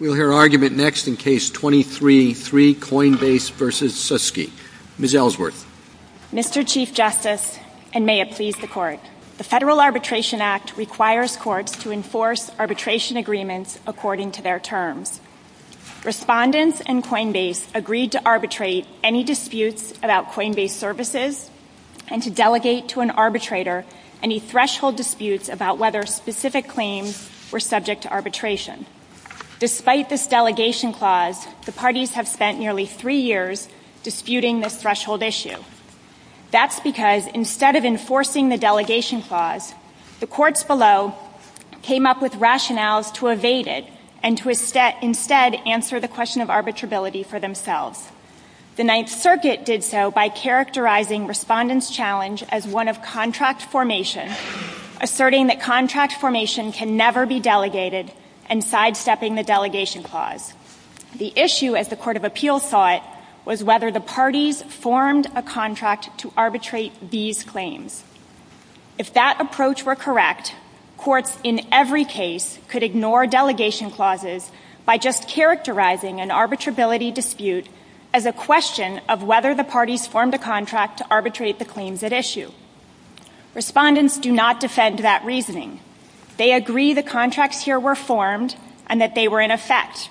We'll hear argument next in Case 23-3, Coinbase v. Suski. Ms. Ellsworth. Mr. Chief Justice, and may it please the Court, the Federal Arbitration Act requires courts to enforce arbitration agreements according to their terms. Respondents in Coinbase agreed to arbitrate any disputes about Coinbase services and to delegate to an arbitrator any threshold disputes about whether specific claims were subject to arbitration. Despite this delegation clause, the parties have spent nearly three years disputing this threshold issue. That's because instead of enforcing the delegation clause, the courts below came up with rationales to evade it and to instead answer the question of arbitrability for themselves. The Ninth Asserting that contract formation can never be delegated and sidestepping the delegation clause. The issue, as the Court of Appeals saw it, was whether the parties formed a contract to arbitrate these claims. If that approach were correct, courts in every case could ignore delegation clauses by just characterizing an arbitrability dispute as a question of whether the parties formed a contract to arbitrate the claims at issue. Respondents do not defend that reasoning. They agree the contracts here were formed and that they were in effect.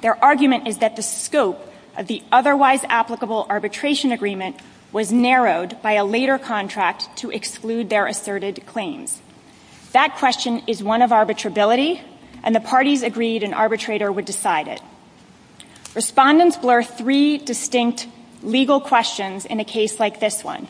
Their argument is that the scope of the otherwise applicable arbitration agreement was narrowed by a later contract to exclude their asserted claims. That question is one of arbitrability and the parties agreed an arbitrator would decide it. Respondents blur three distinct legal questions in a case like this one.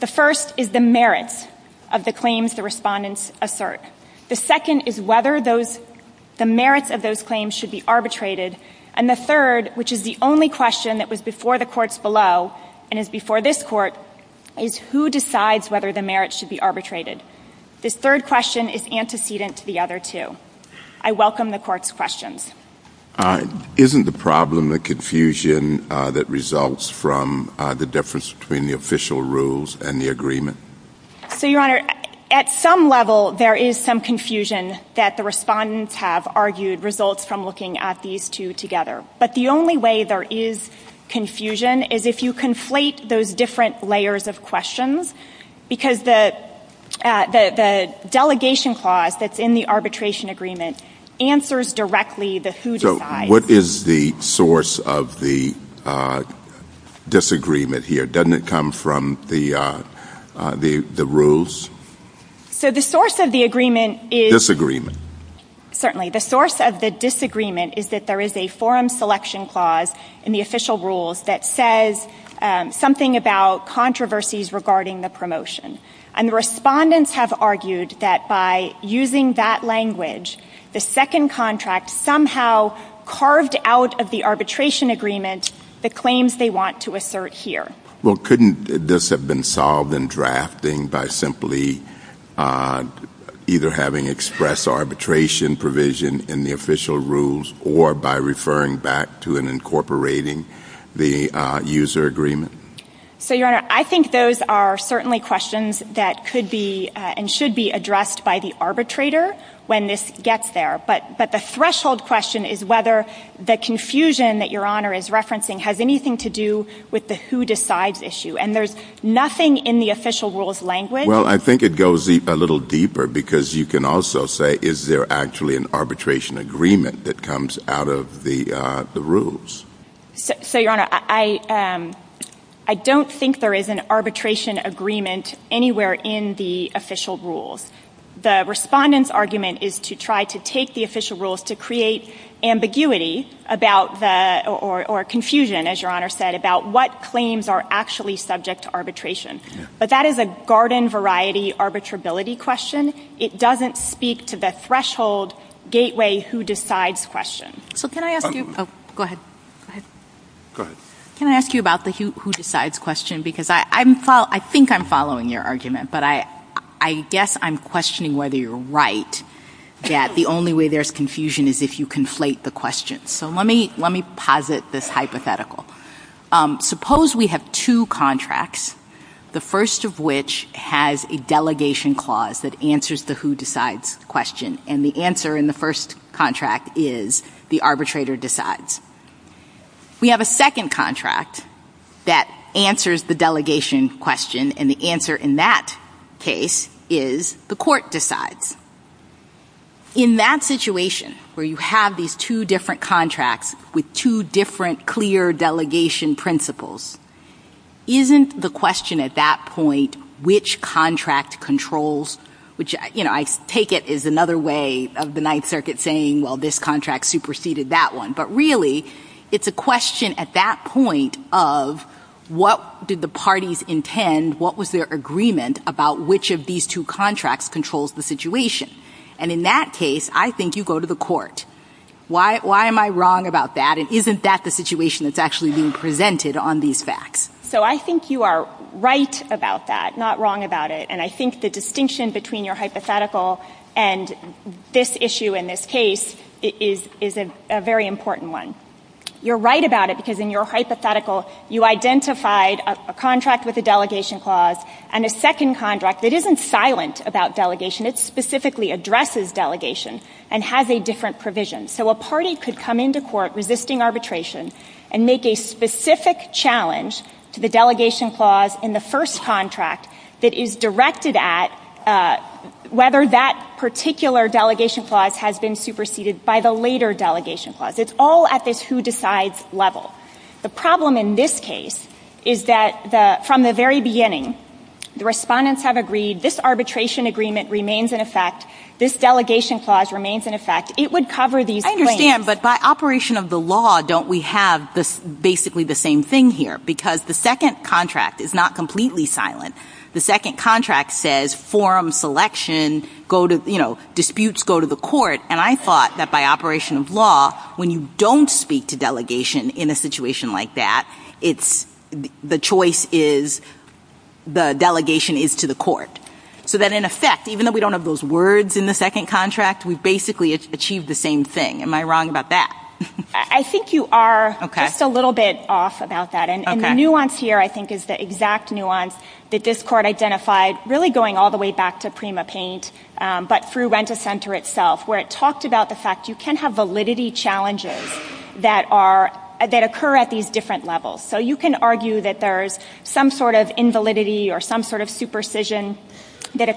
The first is the merits of the claims the respondents assert. The second is whether the merits of those claims should be arbitrated. And the third, which is the only question that was before the courts below and is before this Court, is who decides whether the merits should be arbitrated. This third question is antecedent to the other two. I welcome the Court's questions. Isn't the problem the confusion that results from the difference between the official rules and the agreement? So, Your Honor, at some level there is some confusion that the respondents have argued results from looking at these two together. But the only way there is confusion is if you conflate those different layers of questions, because the delegation clause that's in the who decides. What is the source of the disagreement here? Doesn't it come from the rules? So the source of the agreement is Disagreement. Certainly. The source of the disagreement is that there is a forum selection clause in the official rules that says something about controversies regarding the promotion. And the respondents have argued that by using that language, the second contract somehow carved out of the arbitration agreement the claims they want to assert here. Well, couldn't this have been solved in drafting by simply either having express arbitration provision in the official rules or by referring back to and incorporating the user agreement? So Your Honor, I think those are certainly questions that could be and should be addressed by the arbitrator when this gets there. But the threshold question is whether the confusion that Your Honor is referencing has anything to do with the who decides issue. And there's nothing in the official rules language. Well, I think it goes a little deeper because you can also say is there actually an arbitration agreement that comes out of the rules? So Your Honor, I don't think there is an arbitration agreement anywhere in the official rules. The respondent's argument is to try to take the official rules to create ambiguity about the or confusion, as Your Honor said, about what claims are actually subject to arbitration. But that is a garden variety arbitrability question. It doesn't speak to the threshold gateway who decides question. So can I ask you about the who decides question? Because I think I'm following your argument. But I guess I'm questioning whether you're right that the only way there's confusion is if you conflate the questions. So let me posit this hypothetical. Suppose we have two contracts, the first of which has a delegation clause that answers the who decides question. And the answer in the first contract is the arbitrator decides. We have a second contract that answers the delegation question. And the answer in that case is the court decides. In that situation where you have these two different contracts with two different clear delegation principles, isn't the question at that point which contract controls, which I take it is another way of the Ninth Circuit saying, well, this contract superseded that one. But really, it's a question at that point of what did the parties intend, what was their agreement about which of these two contracts controls the situation. And in that case, I think you go to the court. Why am I wrong about that? And isn't that the situation that's actually being presented on these facts? So I think you are right about that, not wrong about it. And I think the distinction between your hypothetical and this issue in this case is a very important one. You are right about it because in your hypothetical, you identified a contract with a delegation clause and a second contract that isn't silent about delegation. It specifically addresses delegation and has a different provision. So a party could come into court resisting arbitration and make a specific challenge to the delegation clause in the first contract that is directed at whether that particular delegation clause has been superseded by the later delegation clause. It's all at this who decides level. The problem in this case is that from the very beginning, the respondents have agreed this arbitration agreement remains in effect, this delegation clause remains in effect. It would cover these claims. I understand. But by operation of the law, don't we have basically the same thing here? Because the second contract is not completely silent. The second contract says forum selection, go to, you know, disputes go to the court. And I thought that by operation of law, when you don't speak to delegation in a situation like that, it's the choice is the delegation is to the court. So that in effect, even though we don't have those words in the second contract, we've basically achieved the same thing. Am I wrong about that? I think you are just a little bit off about that. And the nuance here I think is the exact nuance that this court identified really going all the way back to PrimaPaint, but through Renta Center itself, where it talked about the fact you can have validity challenges that occur at these different levels. So you can argue that there's some sort of invalidity or some sort of supersession that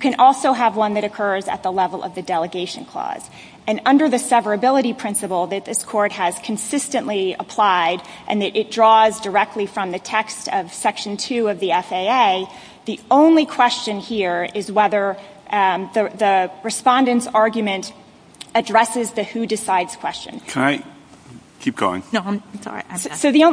can also have one that occurs at the level of the delegation clause. And under the severability principle that this court has consistently applied and that it draws directly from the text of section two of the FAA, the only question here is whether the respondent's argument addresses the who decides question. Can I keep going? No, I'm sorry. So the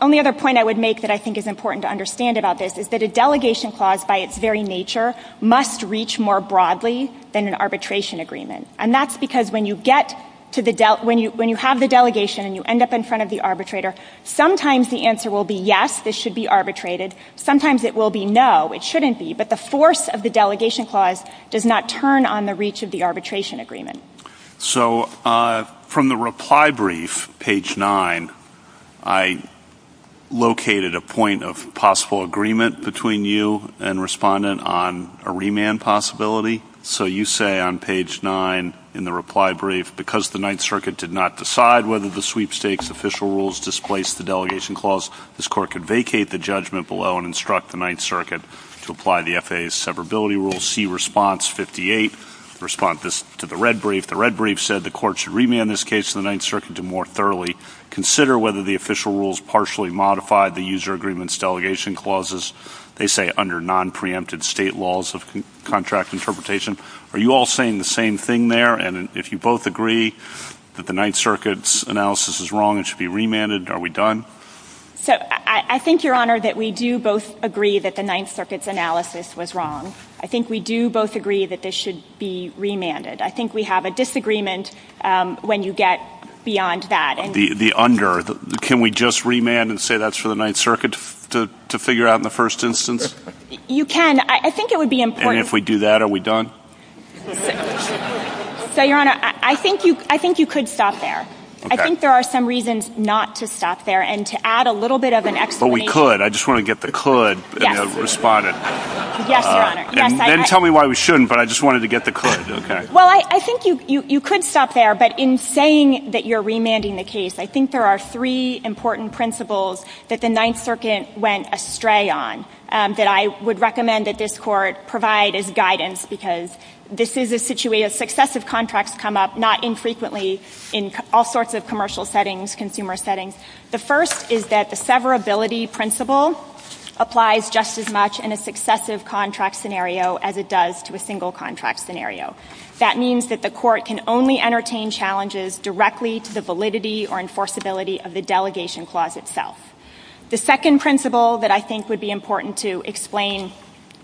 only other point I would make that I think is important to understand about this is that a delegation clause by its very nature must reach more broadly than an arbitration agreement. And that's because when you get to the ‑‑ when you have the delegation and you end up in front of the arbitrator, sometimes the answer will be yes, this should be arbitrated. Sometimes it will be no, it shouldn't be. But the force of the delegation clause does not turn on the reach of the arbitration agreement. So from the reply brief, page nine, I located a point of possible agreement between you and respondent on a remand possibility. So you say on page nine in the reply brief, because the Ninth Circuit did not decide whether the sweepstakes official rules displaced the delegation clause, this court could vacate the judgment below and instruct the Ninth Circuit to apply the FAA's severability rules, see response 58, respond to the red brief. The red brief said the court should remand this case to the Ninth Circuit to more thoroughly consider whether the official rules partially modified the user agreements delegation clauses. They say under non‑preempted state laws of contract interpretation. Are you all saying the same thing there? And if you both agree that the Ninth Circuit's analysis is wrong and should be remanded, are we done? So I think, Your Honor, that we do both agree that the Ninth Circuit's analysis was wrong. I think we do both agree that this should be remanded. I think we have a disagreement when you get beyond that. The under. Can we just remand and say that's for the Ninth Circuit to figure out in the first instance? You can. I think it would be important. And if we do that, are we done? So, Your Honor, I think you could stop there. I think there are some reasons not to stop there. And to add a little bit of an explanation. But we could. I just want to get the could responded. Yes, Your Honor. Yes, I ‑‑ Then tell me why we shouldn't. But I just wanted to get the could. Okay. Well, I think you could stop there. But in saying that you're remanding the case, I think there are three important principles that the Ninth Circuit went astray on that I would recommend that this Court provide as guidance, because this is a situation ‑‑ successive contracts come up, not infrequently, in all sorts of commercial settings, consumer settings. The first is that the severability principle applies just as much in a successive contract scenario as it does to a single contract scenario. That means that the Court can only entertain challenges directly to the validity or enforceability of the delegation clause itself. The second principle that I think would be important to explain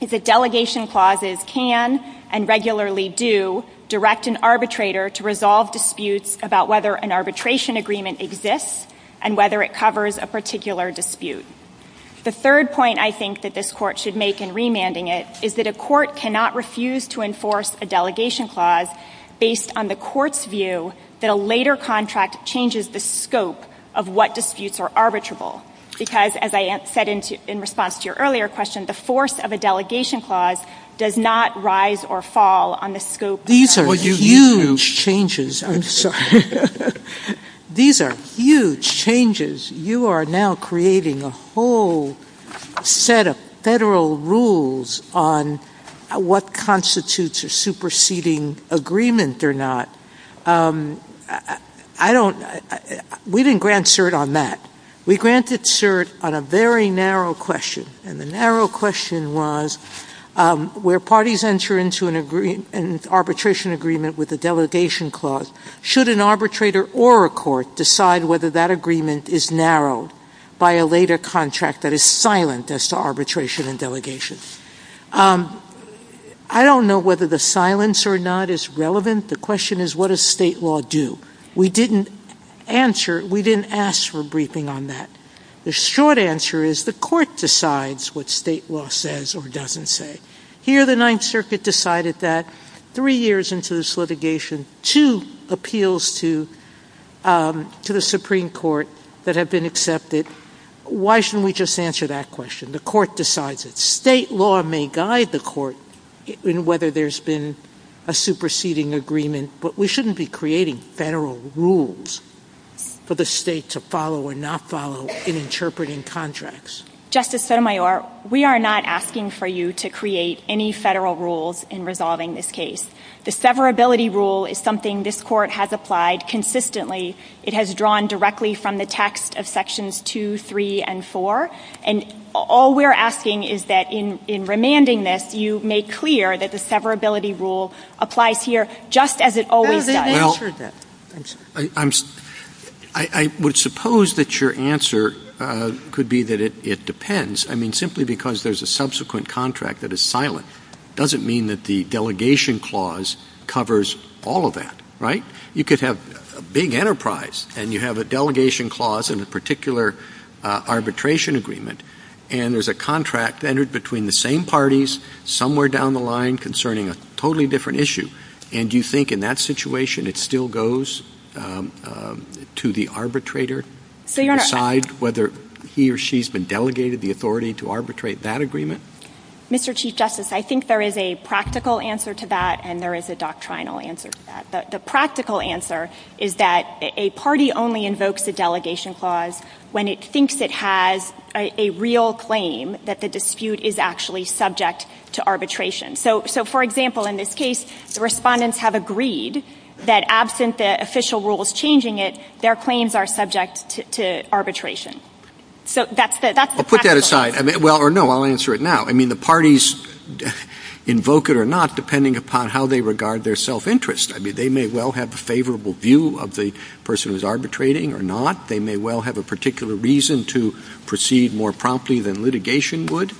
is that delegation clauses can and regularly do direct an arbitrator to resolve disputes about whether an arbitration agreement exists and whether it covers a particular dispute. The third point I think that this Court should make in remanding it is that a Court cannot refuse to enforce a delegation clause based on the Court's view that a later contract changes the scope of what disputes are arbitrable, because, as I said in response to your earlier question, the force of a delegation clause does not rise or fall on the scope of ‑‑ These are huge changes. I'm sorry. These are huge changes. You are now creating a whole set of Federal rules on what constitutes a superseding agreement or not. I don't ‑‑ we didn't grant cert on that. We granted cert on a very narrow question, and the narrow question was where parties enter into an arbitration agreement with a delegation clause, should an arbitrator or a Court decide whether that agreement is narrowed by a later contract that is silent as to arbitration and delegation? I don't know whether the silence or not is relevant. The question is what does State law do? We didn't answer ‑‑ we didn't ask for briefing on that. The short answer is the Court decides what State law says or doesn't say. Here the Ninth Circuit decided that three years into this litigation, two appeals to the Supreme Court that have been accepted. Why shouldn't we just answer that question? The Court decides it. State law may guide the Court in whether there's been a superseding agreement, but we shouldn't be creating Federal rules for the State to follow or not follow in interpreting contracts. Justice Sotomayor, we are not asking for you to create any Federal rules in resolving this case. The severability rule is something this Court has applied consistently. It has drawn directly from the text of Sections 2, 3, and 4. And all we're asking is that in remanding this, you make clear that the rule applies here just as it always does. MS. GOTTLIEB Well, I would suppose that your answer could be that it depends. I mean, simply because there's a subsequent contract that is silent doesn't mean that the delegation clause covers all of that, right? You could have a big enterprise and you have a delegation clause and a particular arbitration agreement, and there's a contract entered between the two. And you think in that situation it still goes to the arbitrator to decide whether he or she's been delegated the authority to arbitrate that agreement? MS. COTTLIEB Mr. Chief Justice, I think there is a practical answer to that and there is a doctrinal answer to that. The practical answer is that a party only invokes a delegation clause when it thinks it has a real claim that the dispute is actually subject to arbitration. So for example, in this case, the respondents have agreed that absent the official rules changing it, their claims are subject to arbitration. So that's the practical answer. JUSTICE SOTOMAYOR Well, put that aside. Well, or no, I'll answer it now. I mean, the parties invoke it or not depending upon how they regard their self-interest. I mean, they may well have a favorable view of the person who's arbitrating or not. They may well have a particular reason to proceed more promptly than litigation would.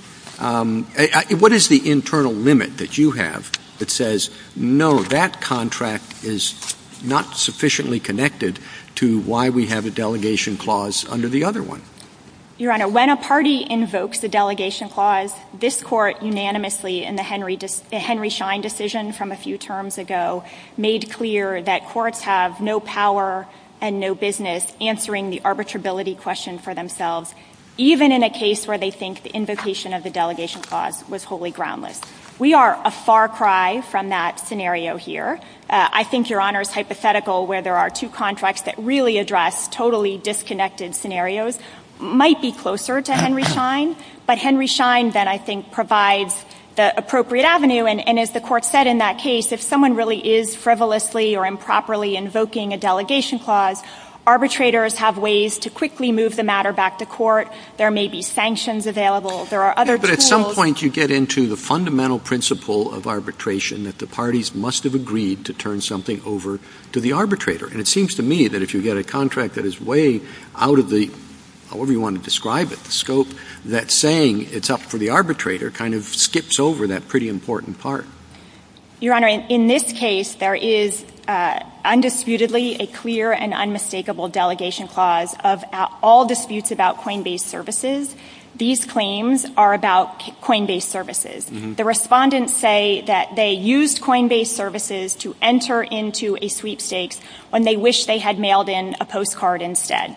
What is the internal limit that you have that says, no, that contract is not sufficiently connected to why we have a delegation clause under the other one? MS. COTTLIEB Your Honor, when a party invokes a delegation clause, this Court unanimously in the Henry Schein decision from a few terms ago made clear that courts have no power and no business answering the arbitrability question for themselves, even in a case where they think the invocation of the delegation clause was wholly groundless. We are a far cry from that scenario here. I think Your Honor's hypothetical where there are two contracts that really address totally disconnected scenarios might be closer to Henry Schein, but Henry Schein then I think provides the appropriate avenue. And as the Court said in that case, if someone really is frivolously or improperly invoking a delegation clause, arbitrators have ways to quickly move the matter back to court. There may be sanctions available. JUSTICE SCALIA But at some point, you get into the fundamental principle of arbitration that the parties must have agreed to turn something over to the arbitrator. And it seems to me that if you get a contract that is way out of the, however you want to describe it, the scope, that saying it's up for the arbitrator kind of skips over that pretty important part. MS. COLEMAN Your Honor, in this case, there is undisputedly a clear and unmistakable delegation clause of all disputes about coin-based services. These claims are about coin-based services. The respondents say that they used coin-based services to enter into a sweepstakes when they wished they had mailed in a postcard instead.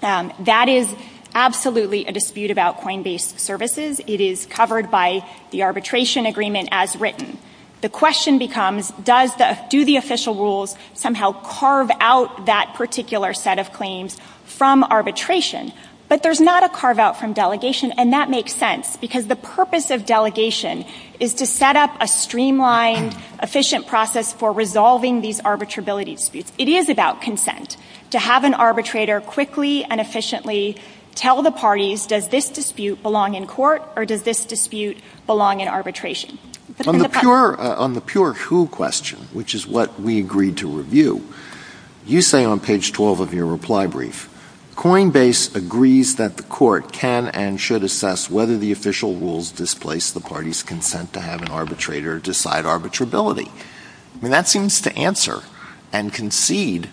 That is absolutely a dispute about arbitration. The question becomes, does the, do the official rules somehow carve out that particular set of claims from arbitration? But there's not a carve-out from delegation, and that makes sense because the purpose of delegation is to set up a streamlined, efficient process for resolving these arbitrability disputes. It is about consent, to have an arbitrator quickly and efficiently tell the parties, does this dispute belong in court or does this dispute belong in arbitration? JUSTICE ALITO On the pure, on the pure who question, which is what we agreed to review, you say on page 12 of your reply brief, coin-based agrees that the court can and should assess whether the official rules displace the party's consent to have an arbitrator decide arbitrability. I mean, that seems to answer and concede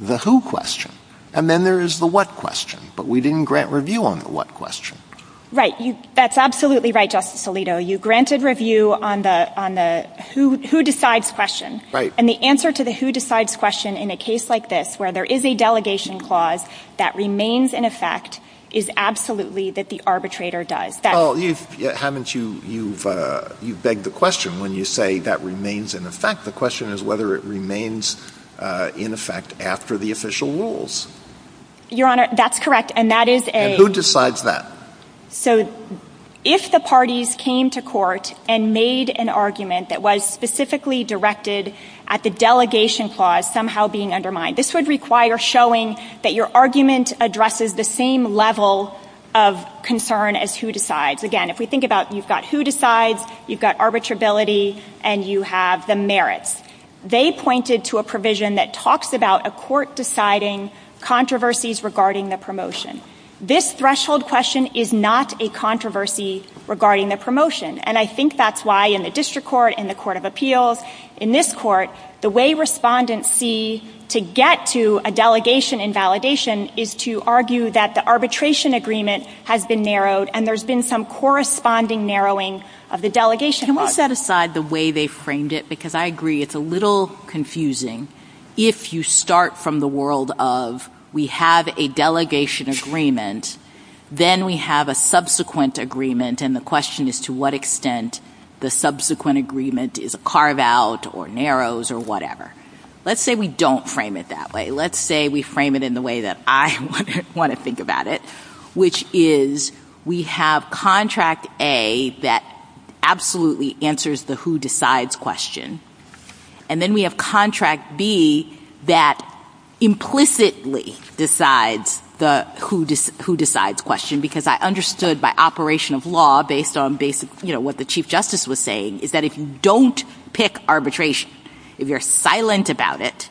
the who question. And then there is the what question, but we didn't grant review on the what question. MS. MCGURK Right. That's absolutely right, Justice Alito. You granted review on the, on the who, who decides question. JUSTICE ALITO Right. MS. MCGURK And the answer to the who decides question in a case like this, where there is a delegation clause that remains in effect, is absolutely that the arbitrator does. JUSTICE ALITO Well, you've, haven't you, you've, you've begged the question. When you say that remains in effect, the question is whether it remains in effect after the official rules. MS. MCGURK Your Honor, that's correct. And that is a – JUSTICE ALITO Who decides that? MS. MCGURK So if the parties came to court and made an argument that was specifically directed at the delegation clause somehow being undermined, this would require showing that your argument addresses the same level of concern as who decides. Again, if we think about you've got who decides, you've got arbitrability, and you have the merits. They pointed to a provision that talks about a court deciding controversies regarding the promotion. And I think that's why in the District Court, in the Court of Appeals, in this Court, the way respondents see to get to a delegation invalidation is to argue that the arbitration agreement has been narrowed, and there's been some corresponding narrowing JUSTICE SOTOMAYOR Can we set aside the way they framed it? Because I agree it's a little confusing if you start from the world of we have a delegation agreement, then we have a subsequent agreement, and the question is to what extent the subsequent agreement is a carve-out or narrows or whatever. Let's say we don't frame it that way. Let's say we frame it in the way that I want to think about it, which is we have Contract A that absolutely answers the who decides question, and then we have Contract B that implicitly decides the who decides question, because I understood by operation of law, based on what the Chief Justice was saying, is that if you don't pick arbitration, if you're silent about it,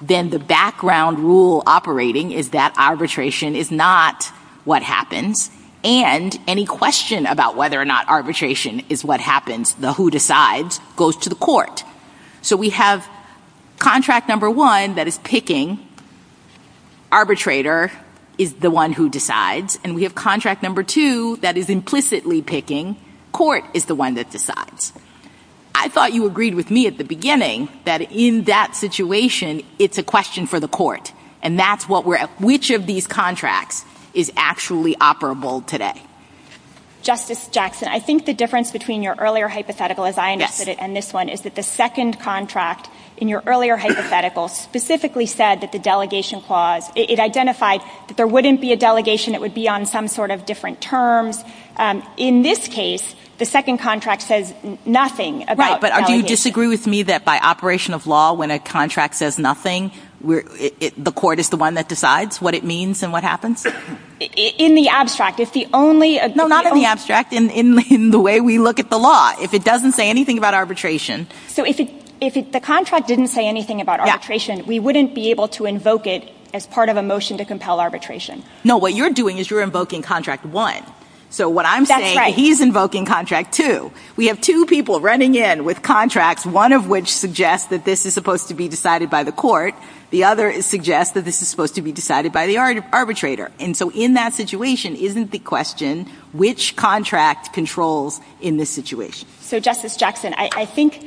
then the background rule operating is that arbitration is not what happens, and any question about whether or not arbitration is what happens, the who decides, goes to the court. So we have Contract No. 1 that is picking, arbitrator is the one who decides, and we have Contract No. 2 that is implicitly picking, court is the one that decides. I thought you agreed with me at the beginning that in that situation, it's a question for the court, and that's what we're at. Which of these contracts is actually operable today? Justice Jackson, I think the difference between your earlier hypothetical, as I understood it, and this one, is that the second contract in your earlier hypothetical specifically said that the delegation clause, it identified that there wouldn't be a delegation, it would be on some sort of different terms. In this case, the second contract says nothing about delegation. Right, but do you disagree with me that by the operation of law, when a contract says nothing, the court is the one that decides what it means and what happens? In the abstract, if the only – No, not in the abstract, in the way we look at the law. If it doesn't say anything about arbitration – So if the contract didn't say anything about arbitration, we wouldn't be able to invoke it as part of a motion to compel arbitration. No, what you're doing is you're invoking Contract 1. So what I'm saying – That's right. He's invoking Contract 2. We have two people running in with contracts, one of which suggests that this is supposed to be decided by the court, the other suggests that this is supposed to be decided by the arbitrator. And so in that situation, isn't the question, which contract controls in this situation? So Justice Jackson, I think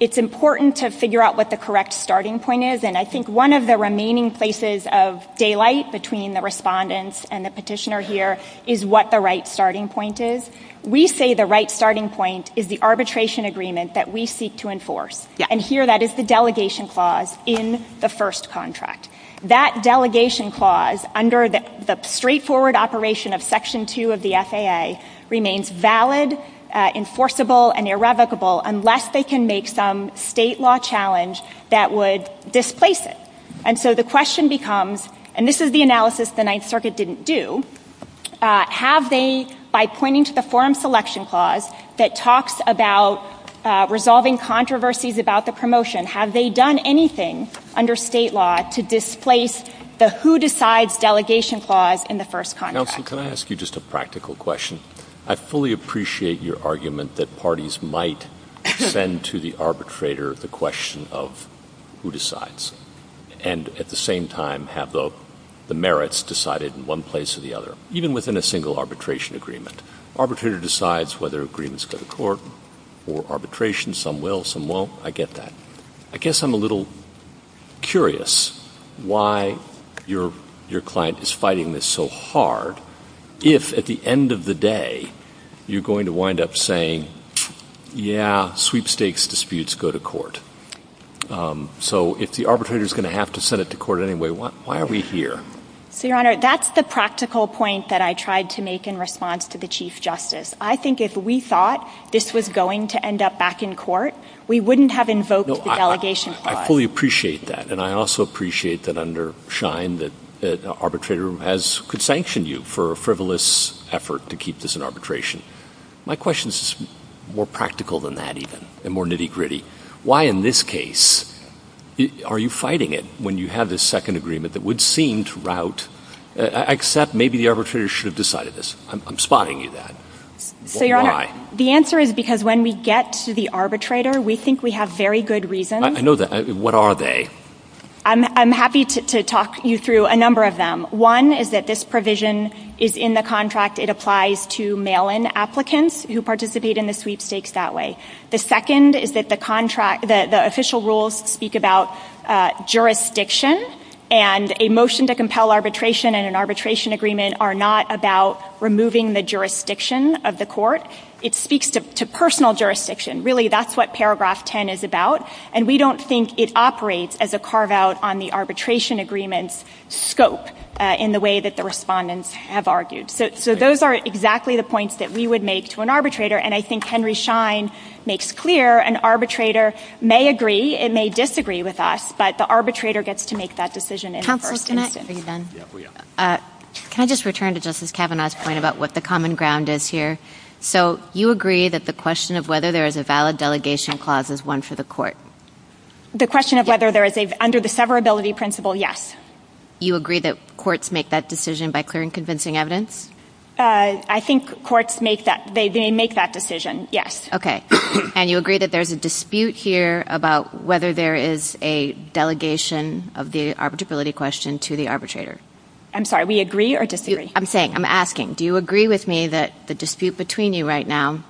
it's important to figure out what the correct starting point is, and I think one of the remaining places of daylight between the respondents and the petitioner here is what the right starting point is. We say the right starting point is the arbitration agreement that we seek to enforce, and here that is the delegation clause in the first contract. That delegation clause, under the straightforward operation of Section 2 of the FAA, remains valid, enforceable, and irrevocable unless they can make some state law challenge that would displace it. And so the question becomes – and this is the analysis the Ninth Circuit didn't do – have they, by pointing to the forum selection clause that talks about resolving controversies about the promotion, have they done anything under state law to displace the who-decides delegation clause in the first contract? Counsel, can I ask you just a practical question? I fully appreciate your argument that parties might send to the arbitrator the question of who decides, and at the same time have the merits decided in one place or the other, even within a single arbitration agreement. Arbitrator decides whether agreements go to court or arbitration. Some will, some won't. I get that. I guess I'm a little curious why your client is fighting this so hard if, at the end of the day, you're going to wind up saying, yeah, sweepstakes disputes go to court. So if the arbitrator is going to have to send it to court anyway, why are we here? So, Your Honor, that's the practical point that I tried to make in response to the Chief Justice. I think if we thought this was going to end up back in court, we wouldn't have invoked the delegation clause. I fully appreciate that, and I also appreciate that under Schein that an arbitrator could sanction you for a frivolous effort to keep this in arbitration. My question is more practical than that, even, and more nitty-gritty. Why in this case are you fighting it when you have this second agreement that would seem to rout, except maybe the arbitrator should have decided this? I'm spotting you there. So, Your Honor, the answer is because when we get to the arbitrator, we think we have very good reasons. I know that. What are they? I'm happy to talk you through a number of them. One is that this provision is in the contract. It applies to mail-in applicants who participate in the sweepstakes that way. The second is that the contract, the official rules speak about jurisdiction, and a motion to compel arbitration and an arbitration agreement are not about removing the jurisdiction of the court. It speaks to personal jurisdiction. Really, that's what paragraph 10 is about, and we don't think it operates as a carve-out on the arbitration agreement's scope in the way that the respondents have argued. So those are exactly the points that we would make to an arbitrator, and I think Henry Schein makes clear an arbitrator may agree, it may disagree with us, but the arbitrator gets to make that decision in the first instance. Counselor, can I just return to Justice Kavanaugh's point about what the common ground is here? So you agree that the question of whether there is a valid delegation clause is one for the court? The question of whether there is a, under the severability principle, yes. You agree that courts make that decision by clearing convincing evidence? I think courts make that, they make that decision, yes. Okay. And you agree that there's a dispute here about whether there is a delegation of the arbitrability question to the arbitrator? I'm sorry, we agree or disagree? I'm saying, I'm asking, do you agree with me that the dispute between you right now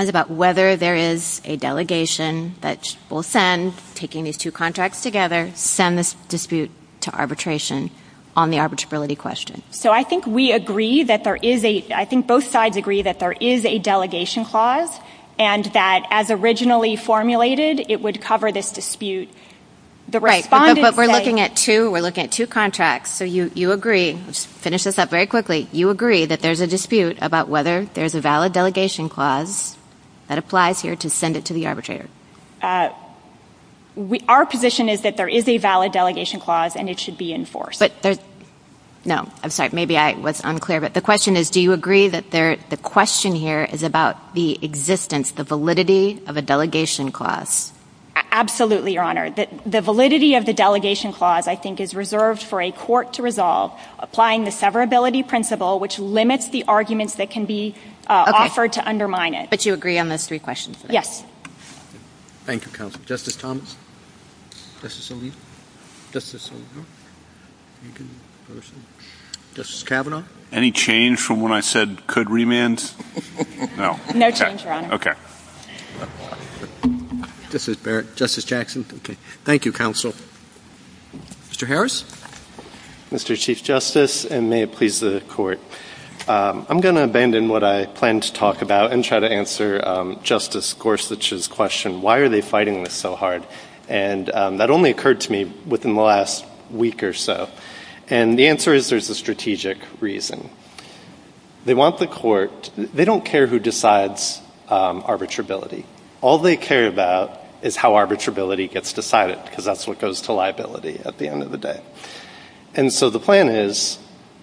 is about whether there is a delegation that will send, taking these two contracts together, send this dispute to arbitration on the arbitrability question? So I think we agree that there is a, I think both sides agree that there is a delegation clause and that as originally formulated, it would cover this dispute. The respondents say... Right, but we're looking at two, we're looking at two contracts, so you agree, let's finish this up very quickly, you agree that there's a dispute about whether there's a valid delegation clause that applies here to send it to the arbitrator? Uh, we, our position is that there is a valid delegation clause and it should be enforced. But there's, no, I'm sorry, maybe I was unclear, but the question is, do you agree that there, the question here is about the existence, the validity of a delegation clause? Absolutely, Your Honor. The validity of the delegation clause, I think, is reserved for a court to resolve, applying the severability principle, which limits the arguments that can be offered to undermine it. But you agree on those three questions? Yes. Thank you, Counsel. Justice Thomas? Justice Alito? Justice Alito? Justice Kavanaugh? Any change from when I said could remand? No. No change, Your Honor. Okay. Justice Barrett? Justice Jackson? Okay. Thank you, Counsel. Mr. Harris? Mr. Chief Justice, and may it please the Court. I'm going to abandon what I planned to talk about and try to answer Justice Gorsuch's question, why are they fighting this so hard? And that only occurred to me within the last week or so. And the answer is there's a strategic reason. They want the court, they don't care who decides arbitrability. All they care about is how arbitrability gets decided, because that's what goes to liability at the end of the day. And so the plan is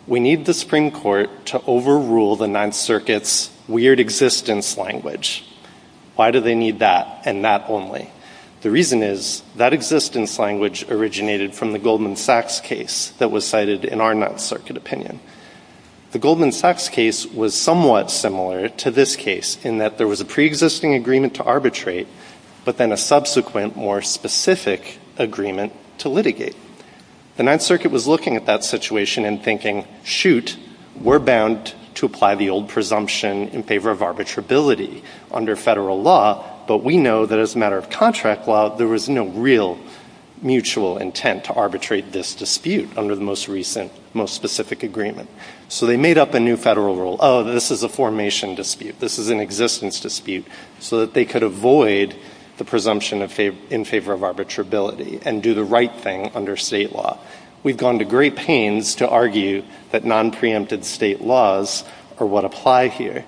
we need the Supreme Court to overrule the Ninth Circuit's weird existence language. Why do they need that and that only? The reason is that existence language originated from the Goldman Sachs case that was cited in our Ninth Circuit opinion. The Goldman Sachs case was somewhat similar to this case in that there was a preexisting agreement to arbitrate, but then a subsequent more specific agreement to litigate. The Ninth Circuit was looking at that situation and thinking, shoot, we're bound to apply the old presumption in favor of arbitrability under federal law, but we know that as a matter of contract law, there was no real mutual intent to arbitrate this dispute under the most recent, most specific agreement. So they made up a new federal rule, oh, this is a formation dispute, this is an existence dispute, so that they could avoid the presumption in favor of arbitrability and do the right thing under state law. We've gone to great pains to argue that non-preempted state laws are what apply here,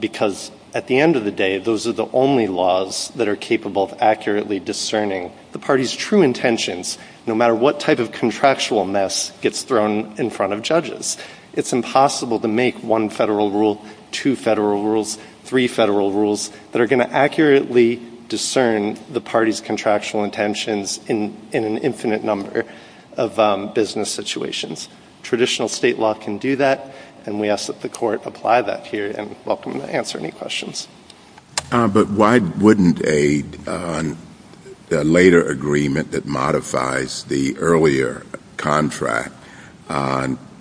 because at the end of the day, those are the only laws that are capable of accurately discerning the party's true intentions, no matter what type of contractual mess gets thrown in front of judges. It's impossible to make one federal rule, two federal rules, three federal rules that are going to accurately discern the party's contractual intentions in an infinite number of business situations. Traditional state law can do that, and we ask that the Court apply that here, and welcome to answer any questions. But why wouldn't a later agreement that modifies the earlier contract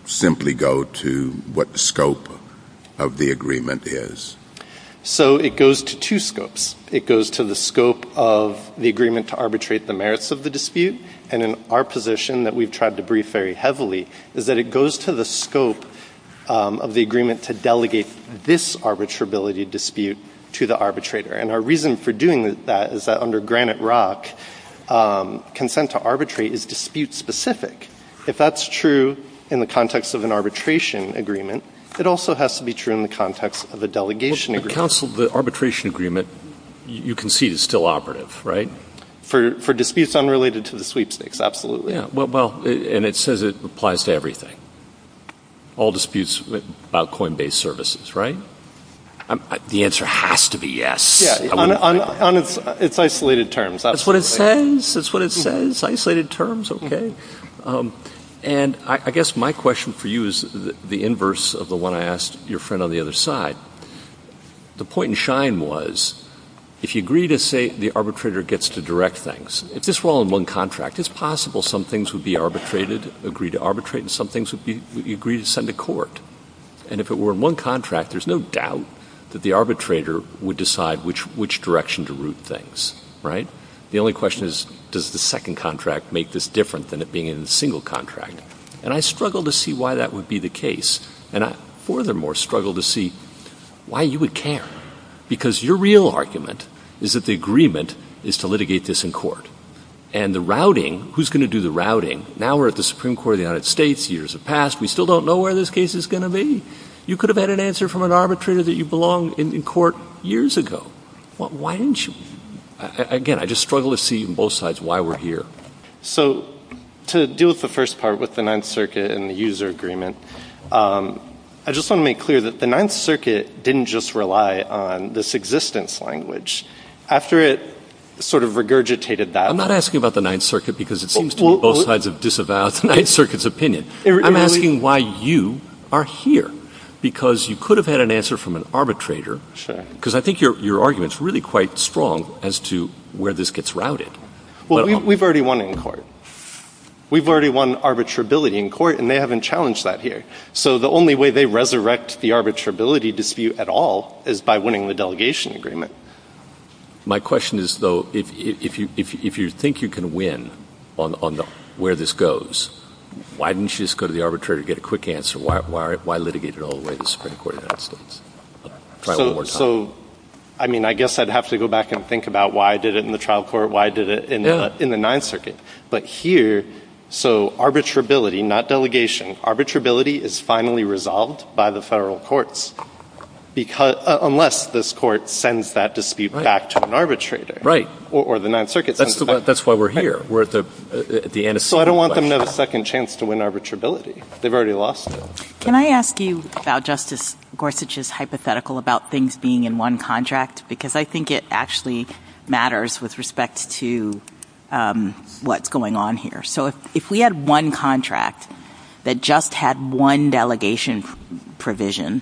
simply go to what the scope of the agreement is? So it goes to two scopes. It goes to the scope of the agreement to arbitrate the merits of the dispute, and in our position that we've tried to brief very heavily, is that it goes to the scope of the agreement to delegate this arbitrability dispute to the arbitrator. And our reason for doing that is that under Granite Rock, consent to arbitrate is dispute-specific. If that's true in the context of an arbitration agreement, it also has to be true in the context of a delegation agreement. But counsel, the arbitration agreement, you concede, is still operative, right? For disputes unrelated to the sweepstakes, absolutely. Well, and it says it applies to everything. All disputes about coin-based services, right? The answer has to be yes. It's isolated terms. That's what it says. That's what it says. Isolated terms, okay. And I guess my question for you is the inverse of the one I asked your friend on the other side. The point in Schein was, if you agree to say the arbitrator gets to direct things, if this were all in one contract, it's possible some things would be arbitrated, agree to arbitrate, and some things would be agreed to send to court. And if it were in one contract, there's no doubt that the arbitrator would decide which direction to route things, right? The only question is, does the second contract make this different than it being in a single contract? And I struggle to see why that would be the case. And I furthermore struggle to see why you would care. Because your real argument is that the agreement is to litigate this in court. And the routing, who's going to do the routing? Now we're at the Supreme Court of the United States, years have passed, we still don't know where this case is going to be. You could have had an answer from an arbitrator that you belong in court years ago. Why didn't you? Again, I just struggle to see on both sides why we're here. So to deal with the first part, with the Ninth Circuit and the user agreement, I just want to make clear that the Ninth Circuit didn't just rely on this existence language. After it sort of regurgitated that... I'm not asking about the Ninth Circuit because it seems to be both sides have disavowed the Ninth Circuit's opinion. I'm asking why you are here. Because you could have had an answer from an arbitrator, because I think your argument is really quite strong as to where this gets routed. Well, we've already won in court. We've already won arbitrability in court, and they haven't challenged that here. So the only way they resurrect the arbitrability dispute at all is by winning the delegation agreement. My question is, though, if you think you can win on where this goes, why didn't you just go to the arbitrator and get a quick answer? Why litigate it all the way to the Supreme Court of the United States? So, I mean, I guess I'd have to go back and think about why I did it in the trial court, why I did it in the Ninth Circuit. But here, so arbitrability, not delegation, arbitrability is finally resolved by the federal courts, unless this court sends that dispute back to an arbitrator or the Ninth Circuit sends it back. Right. That's why we're here. We're at the antecedent question. So I don't want them to have a second chance to win arbitrability. They've already lost it. Can I ask you about Justice Gorsuch's hypothetical about things being in one contract? Because I think it actually matters with respect to what's going on here. So if we had one contract that just had one delegation provision,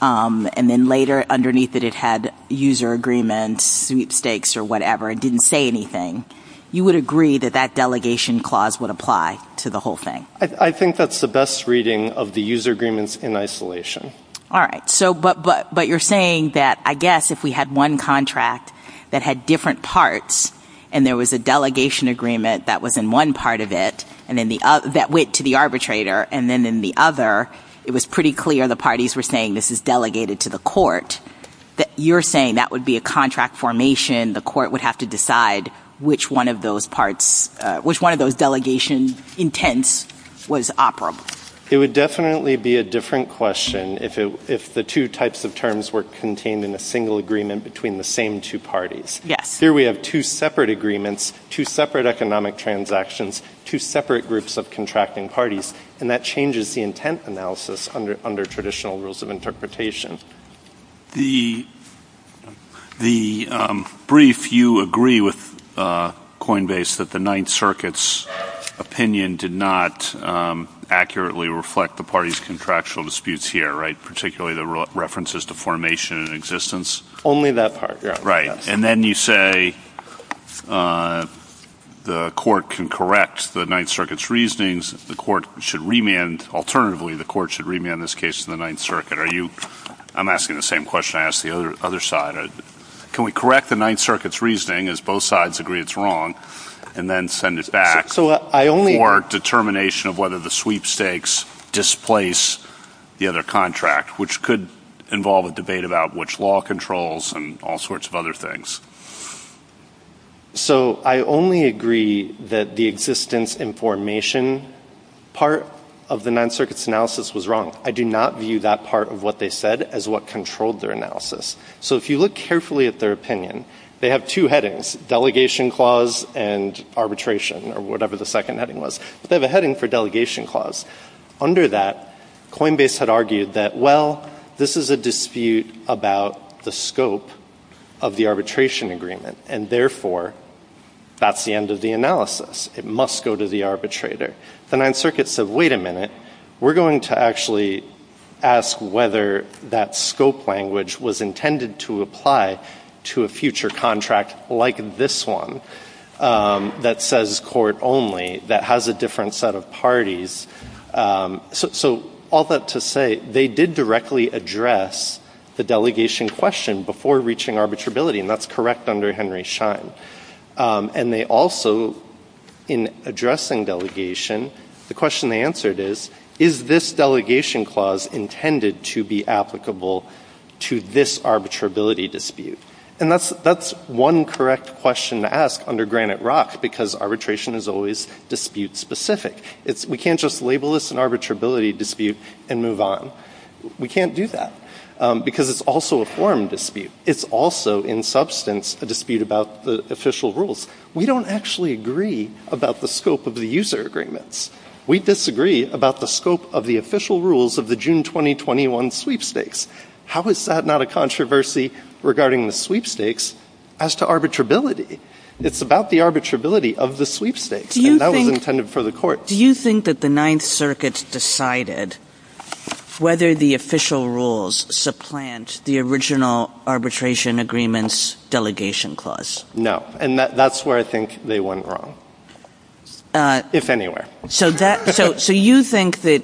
and then later underneath it it had user agreement, sweepstakes or whatever, it didn't say anything, you would agree that that delegation clause would apply to the whole thing? I think that's the best reading of the user agreements in isolation. All right. But you're saying that, I guess, if we had one contract that had different parts and there was a delegation agreement that was in one part of it that went to the arbitrator and then in the other, it was pretty clear the parties were saying this is delegated to the court, you're saying that would be a contract formation, the court would have to decide which one of those parts, which one of those delegation intents was operable? It would definitely be a different question if the two types of terms were contained in a single agreement between the same two parties. Here we have two separate agreements, two separate economic transactions, two separate groups of contracting parties, and that changes the intent analysis under traditional rules of interpretation. The brief, you agree with Coinbase that the Ninth Circuit's opinion did not accurately reflect the parties' contractual disputes here, right, particularly the references to formation and existence? Only that part. Right. And then you say the court can correct the Ninth Circuit's reasonings, the court should remand, alternatively, the court should remand this case to the Ninth Circuit. I'm asking the same question I asked the other side. Can we correct the Ninth Circuit's reasoning as both sides agree it's wrong, and then send it back for determination of whether the sweepstakes displace the other contract, which could involve a debate about which law controls and all sorts of other things. So I only agree that the existence and formation part of the Ninth Circuit's analysis was wrong. I do not view that part of what they said as what controlled their analysis. So if you look carefully at their opinion, they have two headings, delegation clause and arbitration, or whatever the second heading was. But they have a heading for delegation clause. Under that, Coinbase had argued that, well, this is a dispute about the scope of the arbitration agreement, and therefore, that's the end of the analysis. It must go to the arbitrator. The Ninth Circuit said, wait a minute. We're going to actually ask whether that scope language was intended to apply to a future contract like this one that says court only, that has a different set of parties. So all that to say, they did directly address the delegation question before reaching arbitrability, and that's correct under Henry Schein. And they also, in addressing delegation, the question they answered is, is this delegation clause intended to be applicable to this arbitrability dispute? And that's one correct question to ask under Granite Rock, because arbitration is always dispute specific. We can't just label this an arbitrability dispute and move on. We can't do that, because it's also a forum dispute. It's also, in substance, a dispute about the official rules. We don't actually agree about the scope of the user agreements. We disagree about the scope of the official rules of the June 2021 sweepstakes. How is that not a controversy regarding the sweepstakes as to arbitrability? It's about the arbitrability of the sweepstakes, and that was intended for the court. Do you think that the Ninth Circuit decided whether the official rules supplant the original arbitration agreements delegation clause? No. And that's where I think they went wrong, if anywhere. So you think that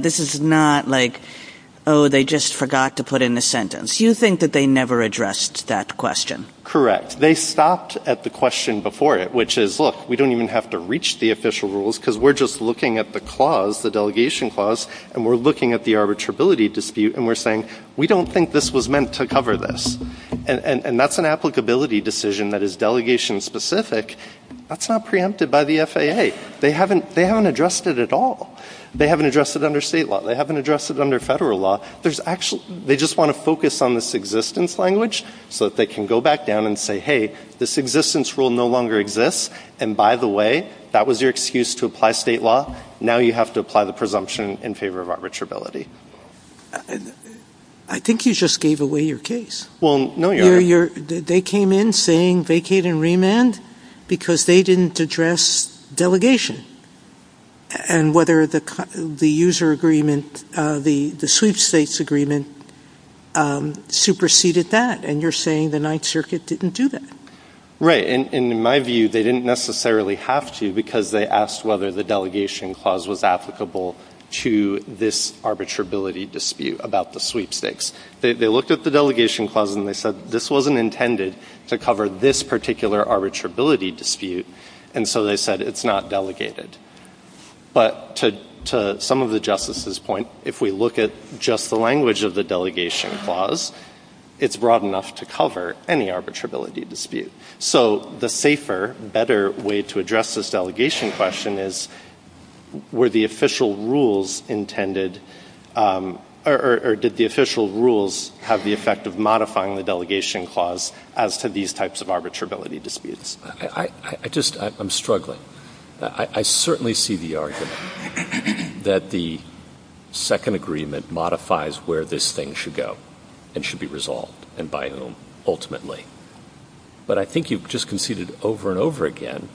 this is not like, oh, they just forgot to put in a sentence. You think that they never addressed that question? Correct. They stopped at the question before it, which is, look, we don't even have to reach the court. We're just looking at the clause, the delegation clause, and we're looking at the arbitrability dispute and we're saying, we don't think this was meant to cover this. And that's an applicability decision that is delegation-specific. That's not preempted by the FAA. They haven't addressed it at all. They haven't addressed it under state law. They haven't addressed it under federal law. They just want to focus on this existence language so that they can go back down and say, hey, this existence rule no longer exists, and by the way, that was your excuse to apply state law. Now you have to apply the presumption in favor of arbitrability. I think you just gave away your case. Well, no, Your Honor. They came in saying vacate and remand because they didn't address delegation and whether the user agreement, the sweep states agreement, superseded that. And you're saying the Ninth Circuit didn't do that. Right. And in my view, they didn't necessarily have to because they asked whether the delegation clause was applicable to this arbitrability dispute about the sweep states. They looked at the delegation clause and they said, this wasn't intended to cover this particular arbitrability dispute. And so they said, it's not delegated. But to some of the justices' point, if we look at just the language of the delegation clause, it's broad enough to cover any arbitrability dispute. So the safer, better way to address this delegation question is, were the official rules intended or did the official rules have the effect of modifying the delegation clause as to these types of arbitrability disputes? I just, I'm struggling. I certainly see the argument that the second agreement modifies where this thing should go and should be resolved and by whom ultimately. But I think you've just conceded over and over again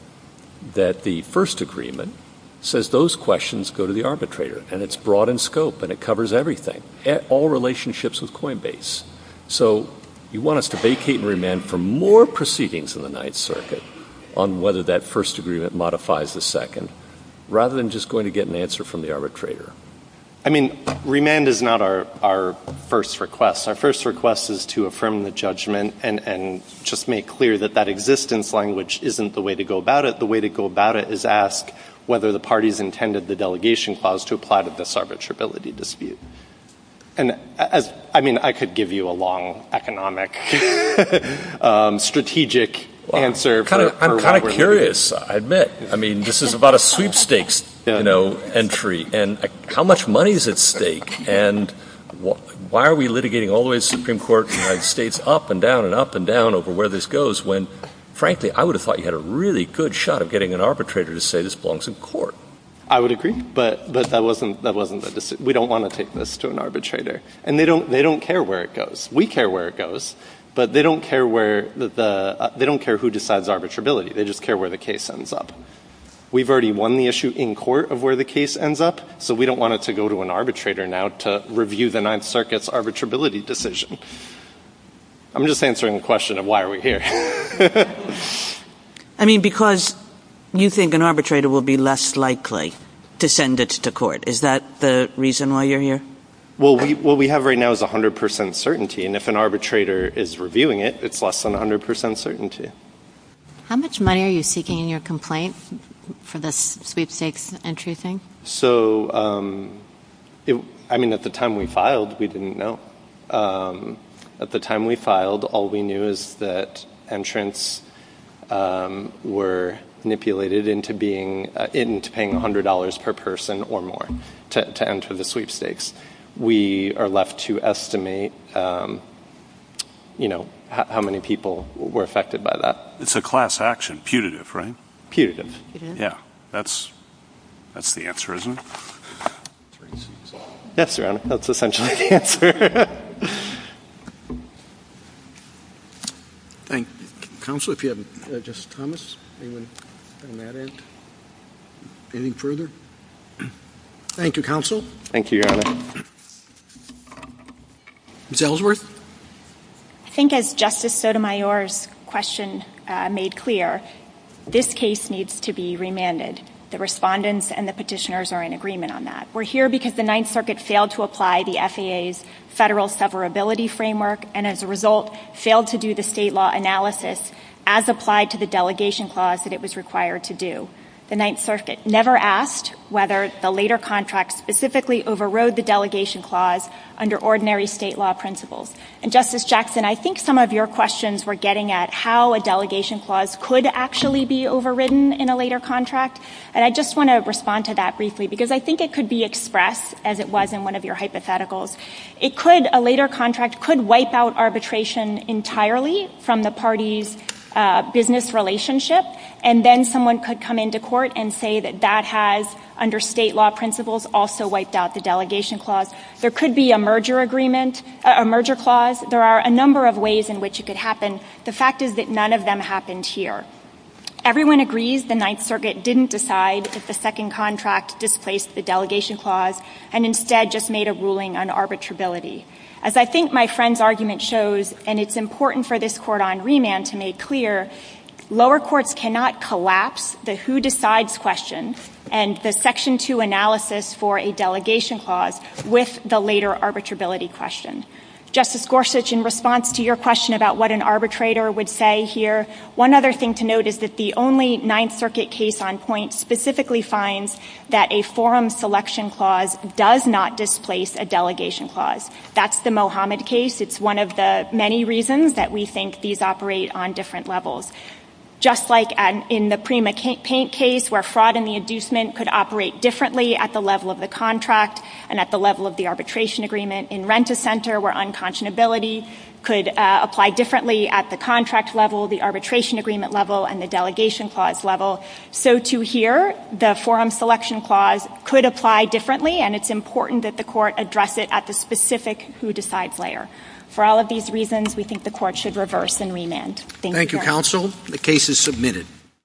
that the first agreement says those questions go to the arbitrator and it's broad in scope and it covers everything, all relationships with Coinbase. So you want us to vacate and remand for more proceedings in the Ninth Circuit on whether that first agreement modifies the second, rather than just going to get an answer from the arbitrator. I mean, remand is not our first request. Our first request is to affirm the judgment and just make clear that that existence language isn't the way to go about it. The way to go about it is ask whether the parties intended the delegation clause to apply to this arbitrability dispute. And as, I mean, I could give you a long economic, strategic answer. I'm kind of curious, I admit. I mean, this is about a sweepstakes, you know, entry and how much money is at stake and why are we litigating all the way to the Supreme Court, United States, up and down and up and down over where this goes when, frankly, I would have thought you had a really good shot of getting an arbitrator to say this belongs in court. I would agree. But that wasn't the decision. We don't want to take this to an arbitrator. And they don't care where it goes. We care where it goes. But they don't care where the, they don't care who decides arbitrability. They just care where the case ends up. We've already won the issue in court of where the case ends up. So we don't want it to go to an arbitrator now to review the Ninth Circuit's arbitrability decision. I'm just answering the question of why are we here. I mean, because you think an arbitrator will be less likely to send it to court. Is that the reason why you're here? Well, what we have right now is 100% certainty. And if an arbitrator is reviewing it, it's less than 100% certainty. How much money are you seeking in your complaint for this sweepstakes entry thing? So, I mean, at the time we filed, we didn't know. At the time we filed, all we knew is that entrants were manipulated into being, into paying $100 per person or more to enter the sweepstakes. We are left to estimate, you know, how many people were affected by that. It's a class action. Putative, right? Putative. Yeah. That's, that's the answer, isn't it? Yes, Your Honor, that's essentially the answer. Counsel, if you have, Justice Thomas, do you want to add anything further? Thank you, Counsel. Thank you, Your Honor. Ms. Ellsworth? I think as Justice Sotomayor's question made clear, this case needs to be remanded. The respondents and the petitioners are in agreement on that. We're here because the Ninth Circuit failed to apply the FAA's federal severability framework and as a result, failed to do the state law analysis as applied to the delegation clause that it was required to do. The Ninth Circuit never asked whether the later contract specifically overrode the delegation clause under ordinary state law principles. And Justice Jackson, I think some of your questions were getting at how a delegation clause could actually be overridden in a later contract and I just want to respond to that briefly because I think it could be expressed as it was in one of your hypotheticals. It could, a later contract could wipe out arbitration entirely from the party's business relationship and then someone could come into court and say that that has, under state law there could be a merger agreement, a merger clause. There are a number of ways in which it could happen. The fact is that none of them happened here. Everyone agrees the Ninth Circuit didn't decide if the second contract displaced the delegation clause and instead just made a ruling on arbitrability. As I think my friend's argument shows and it's important for this court on remand to make clear, lower courts cannot collapse the who decides question and the section 2 analysis for a delegation clause with the later arbitrability question. Justice Gorsuch, in response to your question about what an arbitrator would say here, one other thing to note is that the only Ninth Circuit case on point specifically finds that a forum selection clause does not displace a delegation clause. That's the Mohammed case. It's one of the many reasons that we think these operate on different levels. Just like in the Prima Paint case where fraud and the inducement could operate differently at the level of the contract and at the level of the arbitration agreement, in Rent-a-Center where unconscionability could apply differently at the contract level, the arbitration agreement level and the delegation clause level, so too here, the forum selection clause could apply differently and it's important that the court address it at the specific who decides layer. For all of these reasons, we think the court should reverse in remand. Thank you. Thank you, counsel.